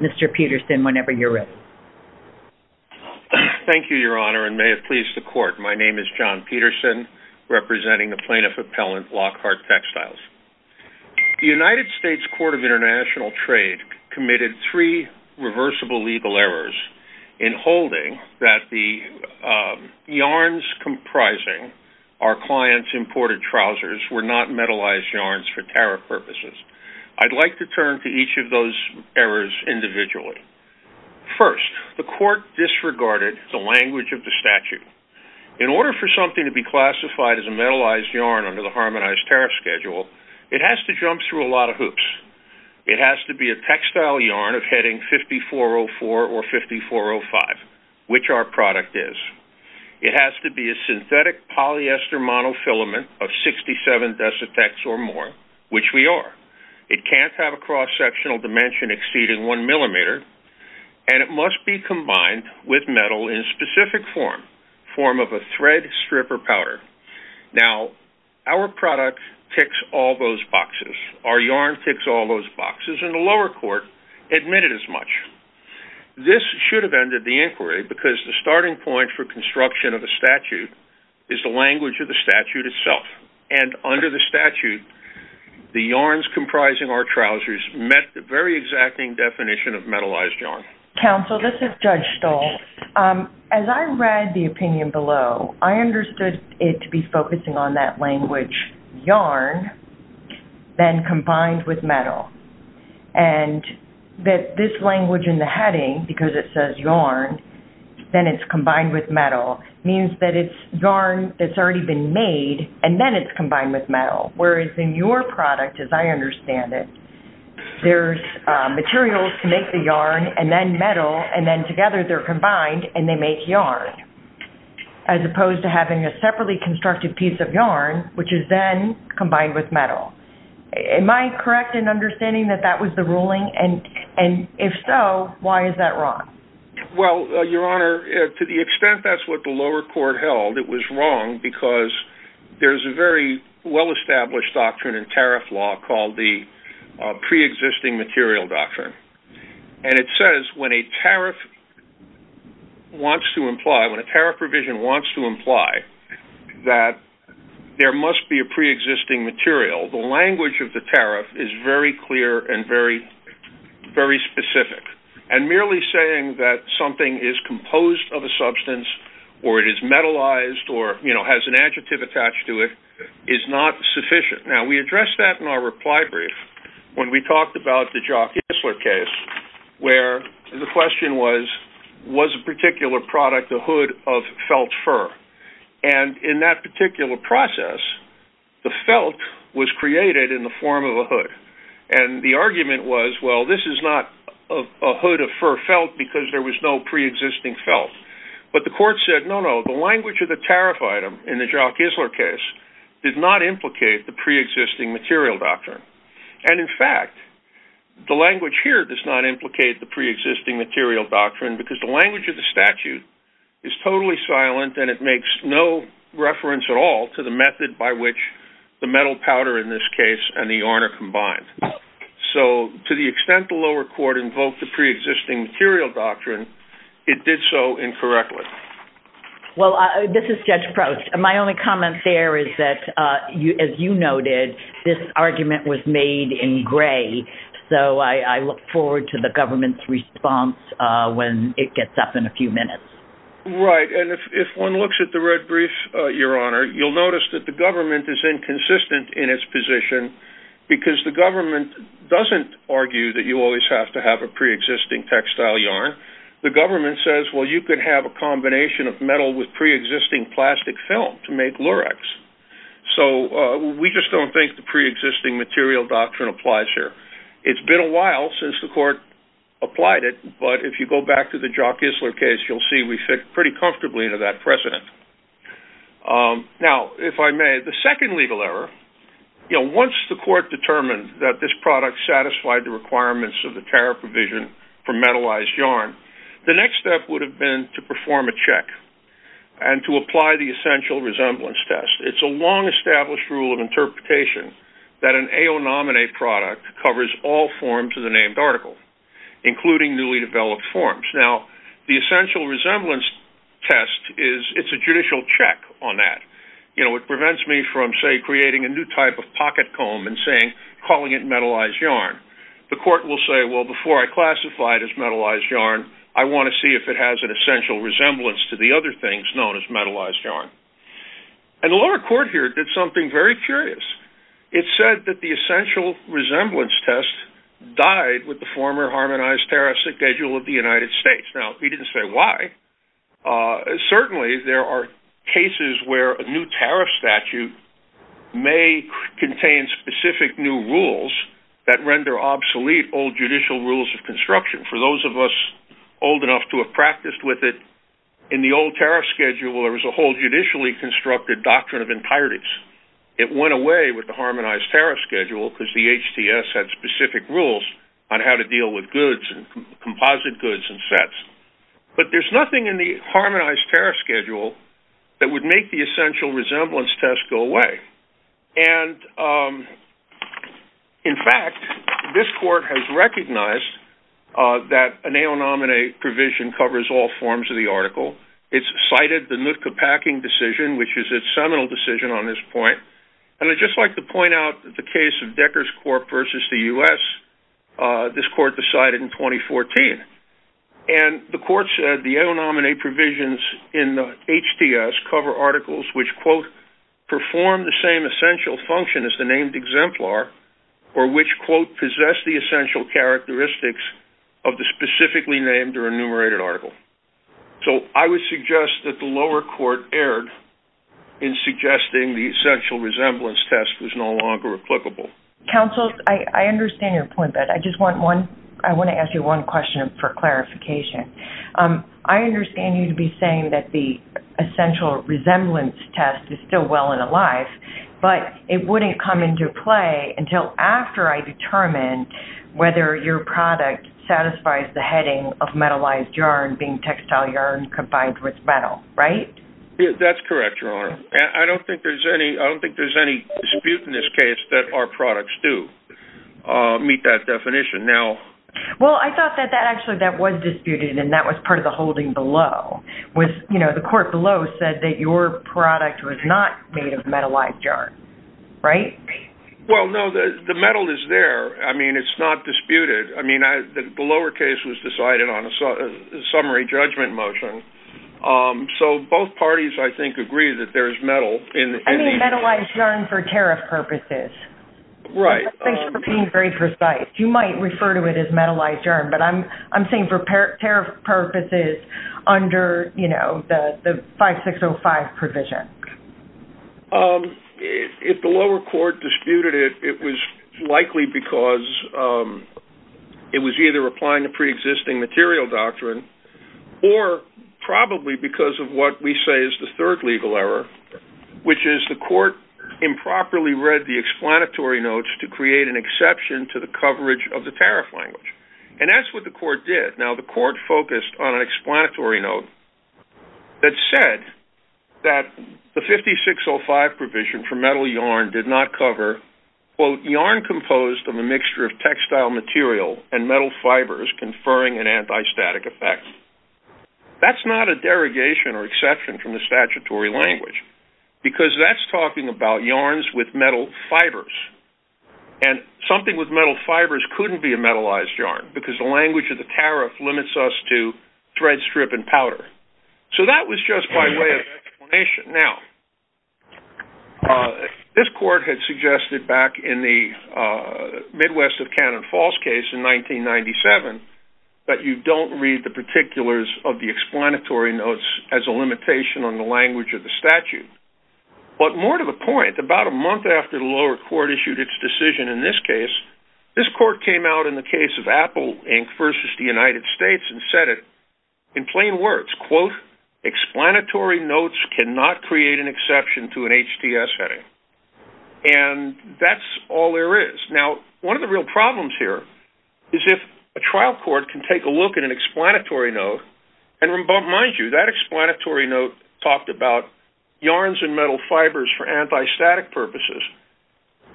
Mr. Peterson, whenever you're ready. Thank you, Your Honor, and may it please the Court, my name is John Peterson, representing the Plaintiff Appellant Lockhart Textiles. The United States Court of International Trade committed three reversible legal errors in holding that the yarns comprising our client's imported trousers were not metallized yarns for tariff purposes. I'd like to turn to each of those errors individually. First, the Court disregarded the language of the statute. In order for something to be classified as a metallized yarn under the Harmonized Tariff Schedule, it has to be a textile yarn of heading 5404 or 5405, which our product is. It has to be a synthetic polyester monofilament of 67 decitex or more, which we are. It can't have a cross-sectional dimension exceeding one millimeter, and it must be combined with metal in a specific form, form of a thread, strip, or powder. Now, our product ticks all those boxes. Our yarn ticks all those boxes, and the lower court admitted as much. This should have ended the inquiry because the starting point for construction of a statute is the language of the statute itself. And under the statute, the yarns comprising our trousers met the very exacting definition of metallized yarn. Counsel, this is Judge Stoll. As I read the opinion below, I understood it to be focusing on that language, yarn, then combined with metal, and that this language in the heading, because it says yarn, then it's combined with metal, means that it's yarn that's already been made, and then it's combined with metal, whereas in your product, as I understand it, there's materials to make the yarn and then metal, and then together they're combined and they make yarn, as opposed to having a separately constructed piece of yarn, which is then combined with metal. Am I correct in understanding that that was the ruling? And if so, why is that wrong? Well, Your Honor, to the extent that's what the lower court held, it was wrong because there's a very well-established doctrine in tariff law called the preexisting material doctrine. And it says when a tariff provision wants to imply that there must be a preexisting material, the language of the tariff is very clear and very specific. And merely saying that something is composed of a substance or it is metallized or has an adjective attached to it is not sufficient. Now, we addressed that in our reply brief when we talked about the Jock Isler case, where the question was, was a particular product a hood of felt fur? And in that particular process, the felt was created in the form of a hood. And the argument was, well, this is not a hood of fur felt because there was no preexisting felt. But the court said, no, no, the language of the tariff item in the Jock Isler case did not implicate the preexisting material doctrine. And in fact, the language here does not implicate the preexisting material doctrine because the language of the statute is totally silent, and it makes no reference at all to the method by which the metal powder, in this case, and the yarn are combined. So to the extent the lower court invoked the preexisting material doctrine, it did so incorrectly. Well, this is Judge Prost. My only comment there is that, as you noted, this argument was made in gray. So I look forward to the government's response when it gets up in a few minutes. Right. And if one looks at the red brief, Your Honor, you'll notice that the government is inconsistent in its position because the government doesn't argue that you always have to have a preexisting textile yarn. The government says, well, you could have a combination of metal with preexisting plastic film to make lurex. So we just don't think the preexisting material doctrine applies here. It's been a while since the court applied it, but if you go back to the Jock Isler case, you'll see we fit pretty comfortably into that precedent. Now, if I may, the second legal error, once the court determined that this product satisfied the requirements of the tariff provision for metallized yarn, the next step would have been to perform a check and to apply the essential resemblance test. It's a long-established rule of interpretation that an AO nominee product covers all forms of the named article, including newly developed forms. Now, the essential resemblance test, it's a judicial check on that. It prevents me from, say, creating a new type of pocket comb and calling it metallized yarn. The court will say, well, before I classify it as metallized yarn, I want to see if it has an essential resemblance to the other things known as metallized yarn. And the lower court here did something very curious. It said that the essential resemblance test died with the former harmonized tariff schedule of the United States. Now, he didn't say why. Certainly, there are cases where a new tariff statute may contain specific new rules that render obsolete old judicial rules of construction. For those of us old enough to have practiced with it, in the old tariff schedule, there was a whole judicially constructed doctrine of entireties. It went away with the harmonized tariff schedule because the HTS had specific rules on how to deal with goods and composite goods and sets. But there's nothing in the harmonized tariff schedule that would make the essential resemblance test go away. And, in fact, this court has recognized that an AO nominee provision covers all forms of the article. It's cited the Nootka Packing Decision, which is its seminal decision on this point. And I'd just like to point out the case of Decker's Corp versus the U.S. This court decided in 2014. And the court said the AO nominee provisions in the HTS cover articles which, quote, perform the same essential function as the named exemplar, or which, quote, possess the essential characteristics of the specifically named or enumerated article. So I would suggest that the lower court erred in suggesting the essential resemblance test was no longer applicable. Counsel, I understand your point, but I just want to ask you one question for clarification. I understand you to be saying that the essential resemblance test is still well and alive, but it wouldn't come into play until after I determine whether your product satisfies the heading of metallized yarn being textile yarn combined with metal, right? That's correct, Your Honor. I don't think there's any dispute in this case that our products do meet that definition. Well, I thought that actually that was disputed, and that was part of the holding below. The court below said that your product was not made of metallized yarn, right? Well, no, the metal is there. I mean, it's not disputed. I mean, the lower case was decided on a summary judgment motion. So both parties, I think, agree that there's metal. I mean metallized yarn for tariff purposes. Right. I think you're being very precise. You might refer to it as metallized yarn, but I'm saying for tariff purposes under, you know, the 5605 provision. If the lower court disputed it, it was likely because it was either applying a preexisting material doctrine or probably because of what we say is the third legal error, which is the court improperly read the explanatory notes to create an exception to the coverage of the tariff language. And that's what the court did. Now, the court focused on an explanatory note that said that the 5605 provision for metal yarn did not cover, quote, yarn composed of a mixture of textile material and metal fibers conferring an antistatic effect. That's not a derogation or exception from the statutory language because that's talking about yarns with metal fibers. And something with metal fibers couldn't be a metallized yarn because the language of the tariff limits us to thread, strip, and powder. So that was just by way of explanation. Now, this court had suggested back in the Midwest of Cannon Falls case in 1997 that you don't read the particulars of the explanatory notes as a limitation on the language of the statute. But more to the point, about a month after the lower court issued its decision in this case, this court came out in the case of Apple Inc. versus the United States and said it in plain words, quote, explanatory notes cannot create an exception to an HTS heading. And that's all there is. Now, one of the real problems here is if a trial court can take a look at an explanatory note, and mind you, that explanatory note talked about yarns and metal fibers for antistatic purposes.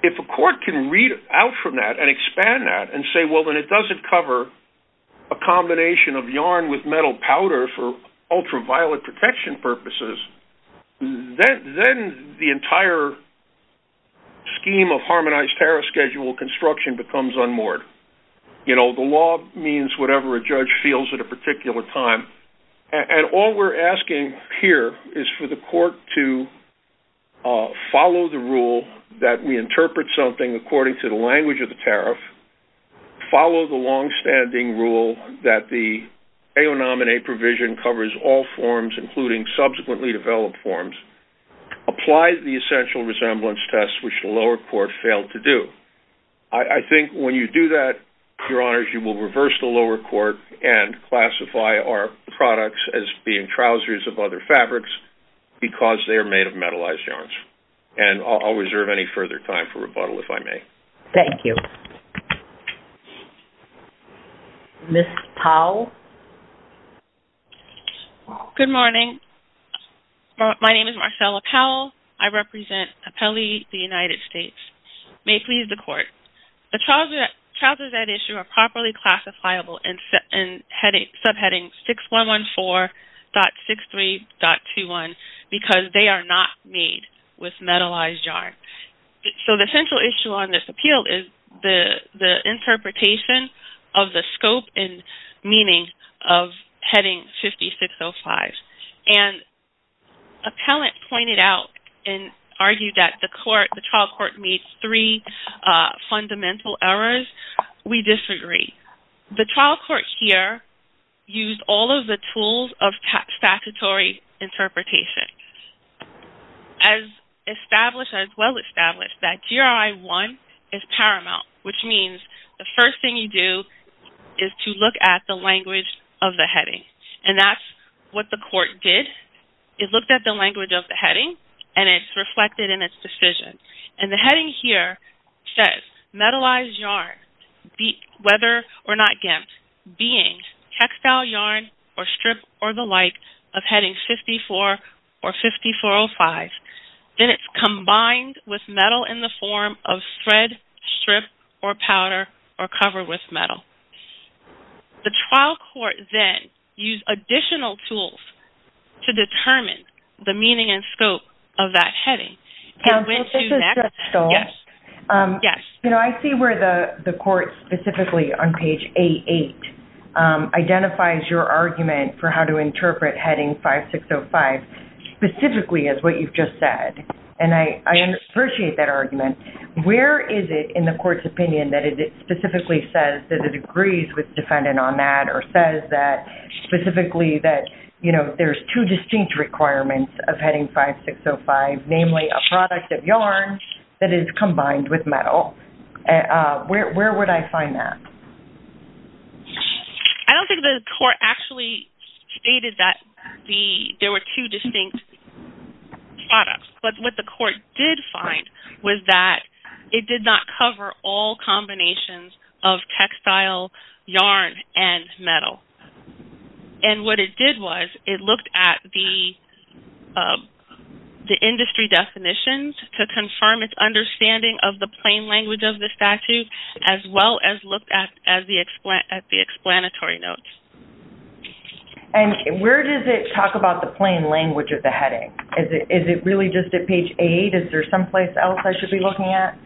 If a court can read out from that and expand that and say, well, when it doesn't cover a combination of yarn with metal powder for ultraviolet protection purposes, then the entire scheme of harmonized tariff schedule construction becomes unmoored. You know, the law means whatever a judge feels at a particular time. And all we're asking here is for the court to follow the rule that we interpret something according to the language of the tariff, follow the longstanding rule that the AO Nomine provision covers all forms, including subsequently developed forms, apply the essential resemblance test, which the lower court failed to do. I think when you do that, Your Honors, you will reverse the lower court and classify our products as being trousers of other fabrics because they are made of metallized yarns. And I'll reserve any further time for rebuttal if I may. Thank you. Ms. Powell? Good morning. My name is Marcella Powell. I represent Apelli, the United States. May it please the court. The trousers at issue are properly classifiable in subheading 6114.63.21 because they are not made with metallized yarn. So the central issue on this appeal is the interpretation of the scope and meaning of heading 5605. And appellant pointed out and argued that the trial court made three fundamental errors. We disagree. The trial court here used all of the tools of statutory interpretation. As established, as well established, that GRI 1 is paramount, which means the first thing you do is to look at the language of the heading. And that's what the court did. It looked at the language of the heading and it's reflected in its decision. And the heading here says metallized yarn, whether or not gimped, being textile yarn or strip or the like of heading 54 or 5405. Then it's combined with metal in the form of thread, strip, or powder, or cover with metal. The trial court then used additional tools to determine the meaning and scope of that heading. I see where the court specifically on page 88 identifies your argument for how to interpret heading 5605 specifically as what you've just said. And I appreciate that argument. Where is it in the court's opinion that it specifically says that it agrees with the defendant on that or says specifically that there's two distinct requirements of heading 5605, namely a product of yarn that is combined with metal? Where would I find that? I don't think the court actually stated that there were two distinct products. But what the court did find was that it did not cover all combinations of textile yarn and metal. And what it did was it looked at the industry definitions to confirm its understanding of the plain language of the statute as well as looked at the explanatory notes. And where does it talk about the plain language of the heading? Is it really just at page 8? Is there someplace else I should be looking at?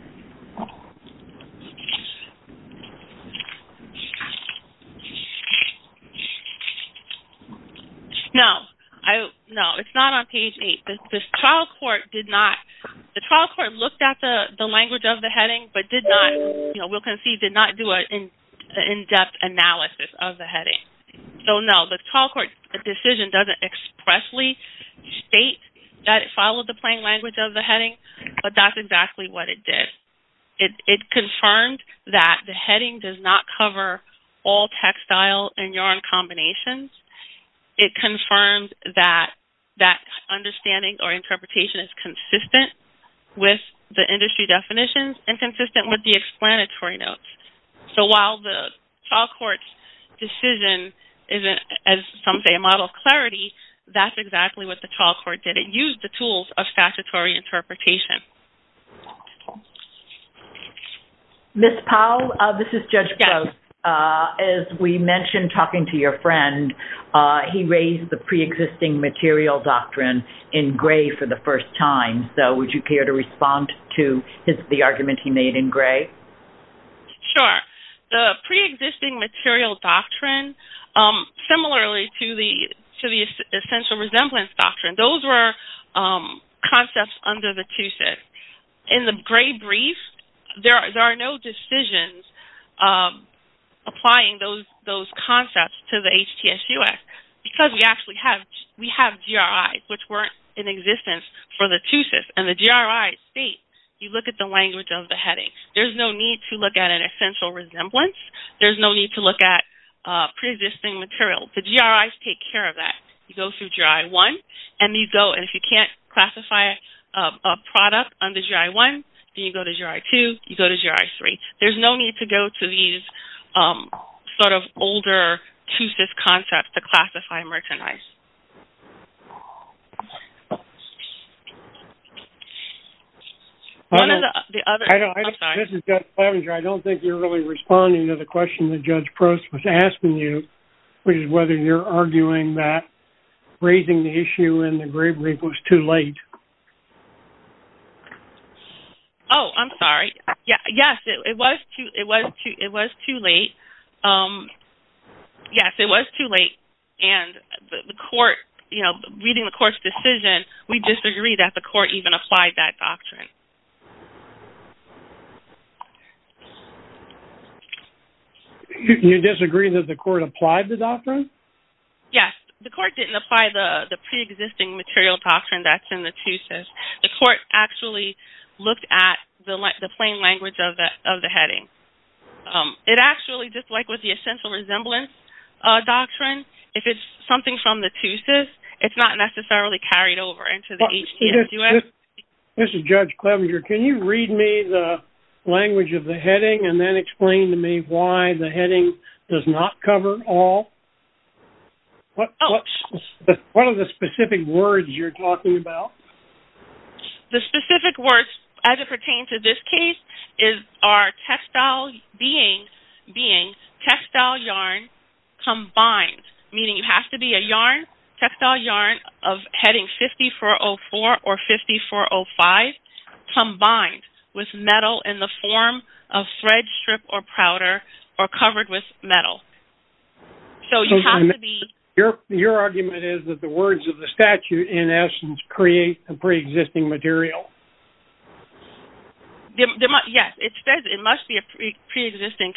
No, it's not on page 8. The trial court looked at the language of the heading but did not do an in-depth analysis of the heading. So no, the trial court's decision doesn't expressly state that it followed the plain language of the heading, but that's exactly what it did. It confirmed that the heading does not cover all textile and yarn combinations. It confirmed that that understanding or interpretation is consistent with the industry definitions and consistent with the explanatory notes. So while the trial court's decision isn't, as some say, a model of clarity, that's exactly what the trial court did. It used the tools of statutory interpretation. Ms. Powell, this is Judge Gross. As we mentioned talking to your friend, he raised the pre-existing material doctrine in gray for the first time. So would you care to respond to the argument he made in gray? Sure. The pre-existing material doctrine, similarly to the essential resemblance doctrine, those were concepts under the 2-SYS. In the gray brief, there are no decisions applying those concepts to the HTS-US because we actually have GRIs, which weren't in existence for the 2-SYS. And the GRIs state, you look at the language of the heading. There's no need to look at an essential resemblance. There's no need to look at pre-existing material. The GRIs take care of that. You go through GRI 1, and if you can't classify a product under GRI 1, then you go to GRI 2, you go to GRI 3. There's no need to go to these sort of older 2-SYS concepts to classify merchandise. One of the other... I'm sorry. This is Jeff Clevenger. I don't think you're really responding to the question that Judge Prost was asking you, which is whether you're arguing that raising the issue in the gray brief was too late. Oh, I'm sorry. Yes, it was too late. Yes, it was too late. And the court, you know, reading the court's decision, we disagree that the court even applied that doctrine. You disagree that the court applied the doctrine? Yes. The court didn't apply the pre-existing material doctrine that's in the 2-SYS. The court actually looked at the plain language of the heading. It actually, just like with the essential resemblance doctrine, if it's something from the 2-SYS, it's not necessarily carried over into the HTS-US. This is Judge Clevenger. Can you read me the language of the heading and then explain to me why the heading does not cover all? What are the specific words you're talking about? The specific words, as it pertains to this case, are textile being, textile yarn combined, meaning it has to be a yarn, textile yarn of heading 5404 or 5405, combined with metal in the form of thread, strip, or powder, or covered with metal. So your argument is that the words of the statute, in essence, create a pre-existing material? Yes, it says it must be a pre-existing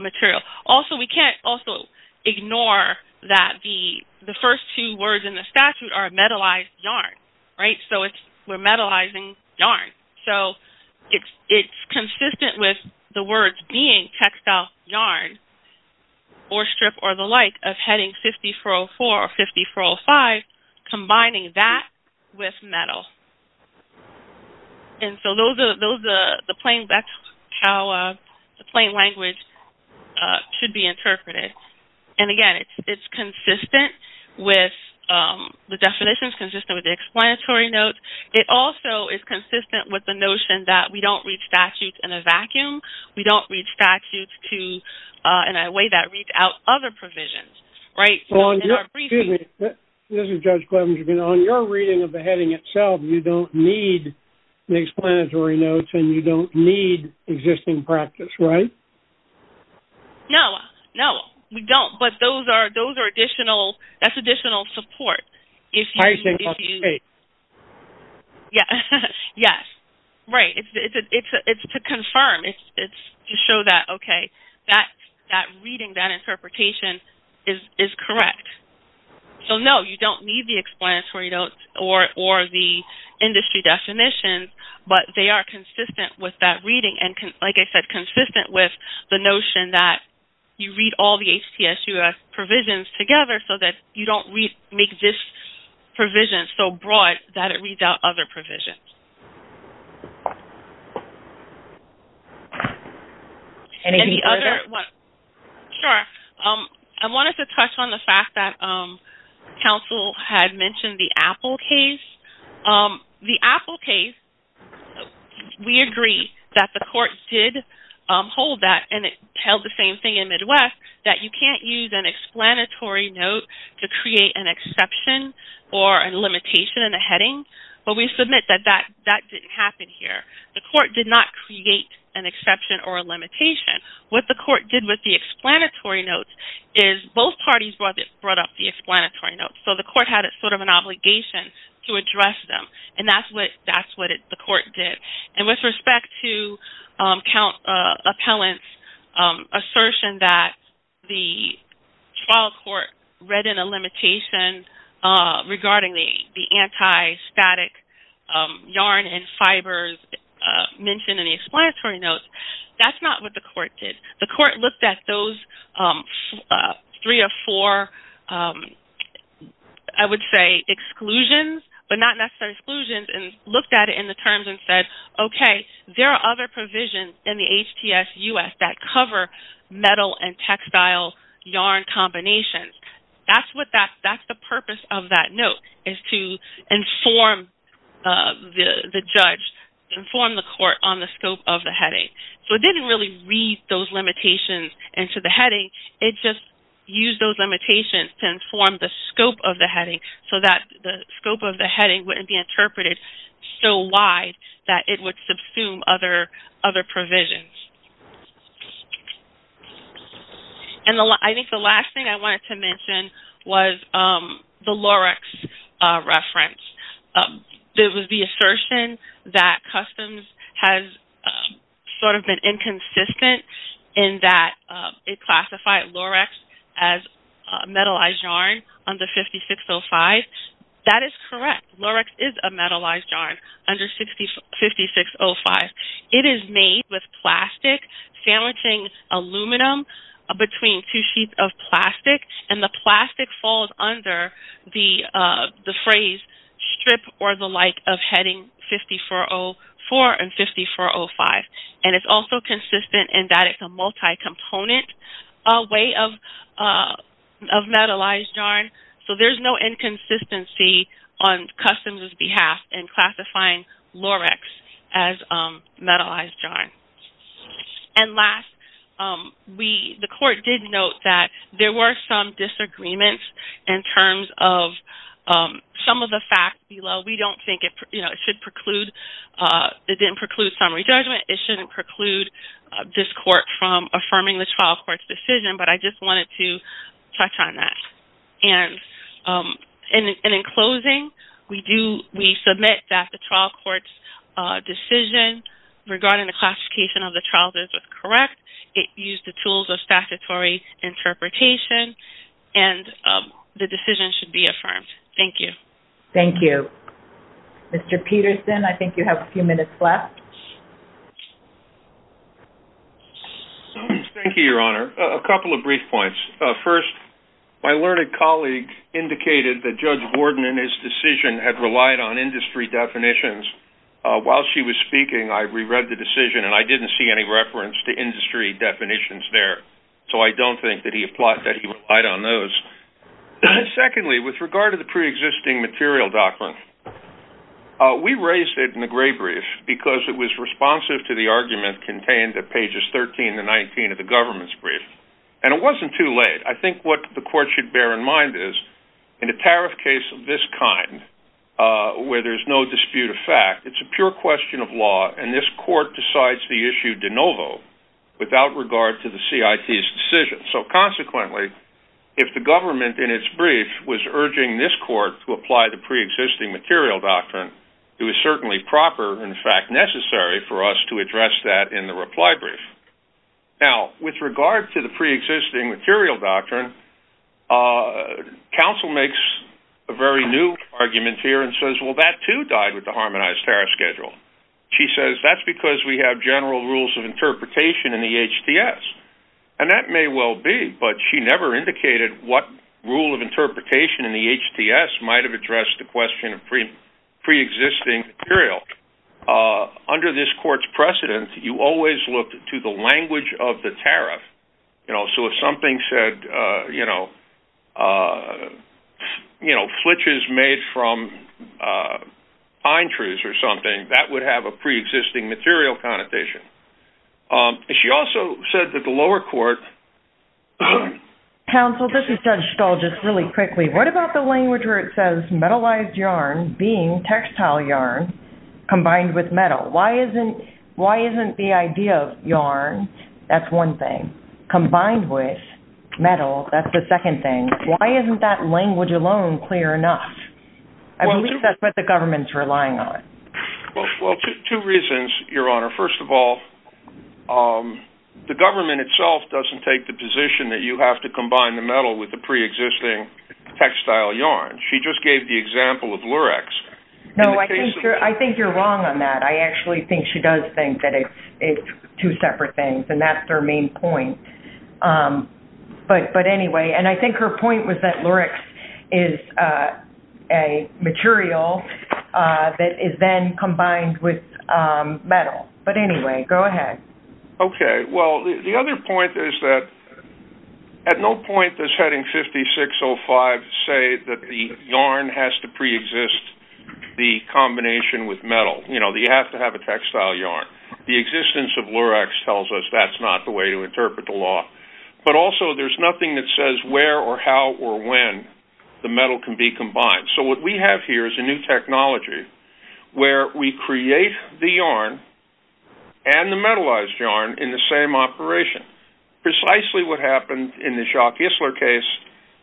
material. Also, we can't also ignore that the first two words in the statute are metallized yarn, right? So we're metallizing yarn. So it's consistent with the words being textile yarn or strip or the like of heading 5404 or 5405, combining that with metal. And so that's how the plain language should be interpreted. And again, it's consistent with the definitions, consistent with the explanatory notes. It also is consistent with the notion that we don't read statutes in a vacuum. We don't read statutes in a way that reads out other provisions, right? So in our briefing... Excuse me. This is Judge Clemens. On your reading of the heading itself, you don't need the explanatory notes, and you don't need existing practice, right? No, no, we don't. But those are additional, that's additional support. Yes, yes, right. It's to confirm. It's to show that, okay, that reading, that interpretation is correct. So, no, you don't need the explanatory notes or the industry definitions, but they are consistent with that reading and, like I said, consistent with the notion that you read all the HTSUS provisions together so that you don't make this provision so broad that it reads out other provisions. Any other... Sure. I wanted to touch on the fact that counsel had mentioned the Apple case. The Apple case, we agree that the court did hold that, and it held the same thing in Midwest, that you can't use an explanatory note to create an exception or a limitation in a heading, but we submit that that didn't happen here. The court did not create an exception or a limitation. What the court did with the explanatory notes is both parties brought up the explanatory notes, so the court had sort of an obligation to address them, and that's what the court did. And with respect to appellant's assertion that the trial court read in a limitation regarding the anti-static yarn and fibers mentioned in the explanatory notes, that's not what the court did. The court looked at those three or four, I would say, exclusions, but not necessarily exclusions, and looked at it in the terms and said, okay, there are other provisions in the HTS-US that cover metal and textile yarn combinations. That's the purpose of that note, is to inform the judge, inform the court on the scope of the heading. So it didn't really read those limitations into the heading, it just used those limitations to inform the scope of the heading so that the scope of the heading wouldn't be interpreted so wide that it would subsume other provisions. And I think the last thing I wanted to mention was the Lorex reference. There was the assertion that Customs has sort of been inconsistent in that it classified Lorex as a metallized yarn under 5605. That is correct. Lorex is a metallized yarn under 5605. It is made with plastic sandwiching aluminum between two sheets of plastic, and the plastic falls under the phrase strip or the like of heading 5404 and 5405. And it's also consistent in that it's a multi-component way of metallized yarn, so there's no inconsistency on Customs' behalf in classifying Lorex as metallized yarn. And last, the court did note that there were some disagreements in terms of some of the facts below. We don't think it should preclude, it didn't preclude summary judgment. It shouldn't preclude this court from affirming the trial court's decision, but I just wanted to touch on that. And in closing, we submit that the trial court's decision regarding the classification of the trials is correct. It used the tools of statutory interpretation, and the decision should be affirmed. Thank you. Thank you. Mr. Peterson, I think you have a few minutes left. Thank you, Your Honor. A couple of brief points. First, my learned colleague indicated that Judge Borden and his decision had relied on industry definitions. While she was speaking, I reread the decision, and I didn't see any reference to industry definitions there, so I don't think that he relied on those. Secondly, with regard to the preexisting material, Doctrine, we raised it in the gray brief because it was responsive to the argument contained at pages 13 to 19 of the government's brief. And it wasn't too late. I think what the court should bear in mind is, in a tariff case of this kind, where there's no dispute of fact, it's a pure question of law, and this court decides the issue de novo without regard to the CIT's decision. So, consequently, if the government, in its brief, was urging this court to apply the preexisting material doctrine, it was certainly proper, in fact, necessary for us to address that in the reply brief. Now, with regard to the preexisting material doctrine, counsel makes a very new argument here and says, well, that too died with the Harmonized Tariff Schedule. She says that's because we have general rules of interpretation in the HTS, and that may well be, but she never indicated what rule of interpretation in the HTS might have addressed the question of preexisting material. Under this court's precedent, you always look to the language of the tariff. So if something said, you know, flitches made from pine trees or something, that would have a preexisting material connotation. She also said that the lower court- Counsel, this is Judge Stahl, just really quickly. What about the language where it says, metalized yarn being textile yarn combined with metal? Why isn't the idea of yarn, that's one thing, combined with metal, that's the second thing. Why isn't that language alone clear enough? I believe that's what the government's relying on. Well, two reasons, Your Honor. First of all, the government itself doesn't take the position that you have to combine the metal with the preexisting textile yarn. She just gave the example of lurex. No, I think you're wrong on that. I actually think she does think that it's two separate things, and that's her main point. But anyway, and I think her point was that lurex is a material that is then combined with metal. But anyway, go ahead. Okay. Well, the other point is that at no point does Heading 5605 say that the yarn has to preexist the combination with metal. You have to have a textile yarn. The existence of lurex tells us that's not the way to interpret the law. But also, there's nothing that says where or how or when the metal can be combined. So what we have here is a new technology where we create the yarn and the metallized yarn in the same operation. Precisely what happened in the Schock-Isler case,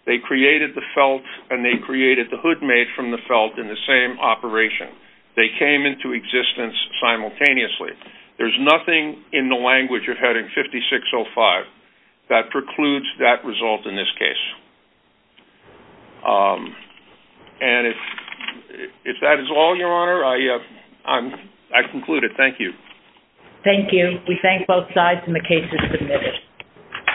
they created the felt and they created the hood made from the felt in the same operation. They came into existence simultaneously. There's nothing in the language of Heading 5605 that precludes that result in this case. And if that is all, Your Honor, I conclude it. Thank you. Thank you. We thank both sides and the case is submitted.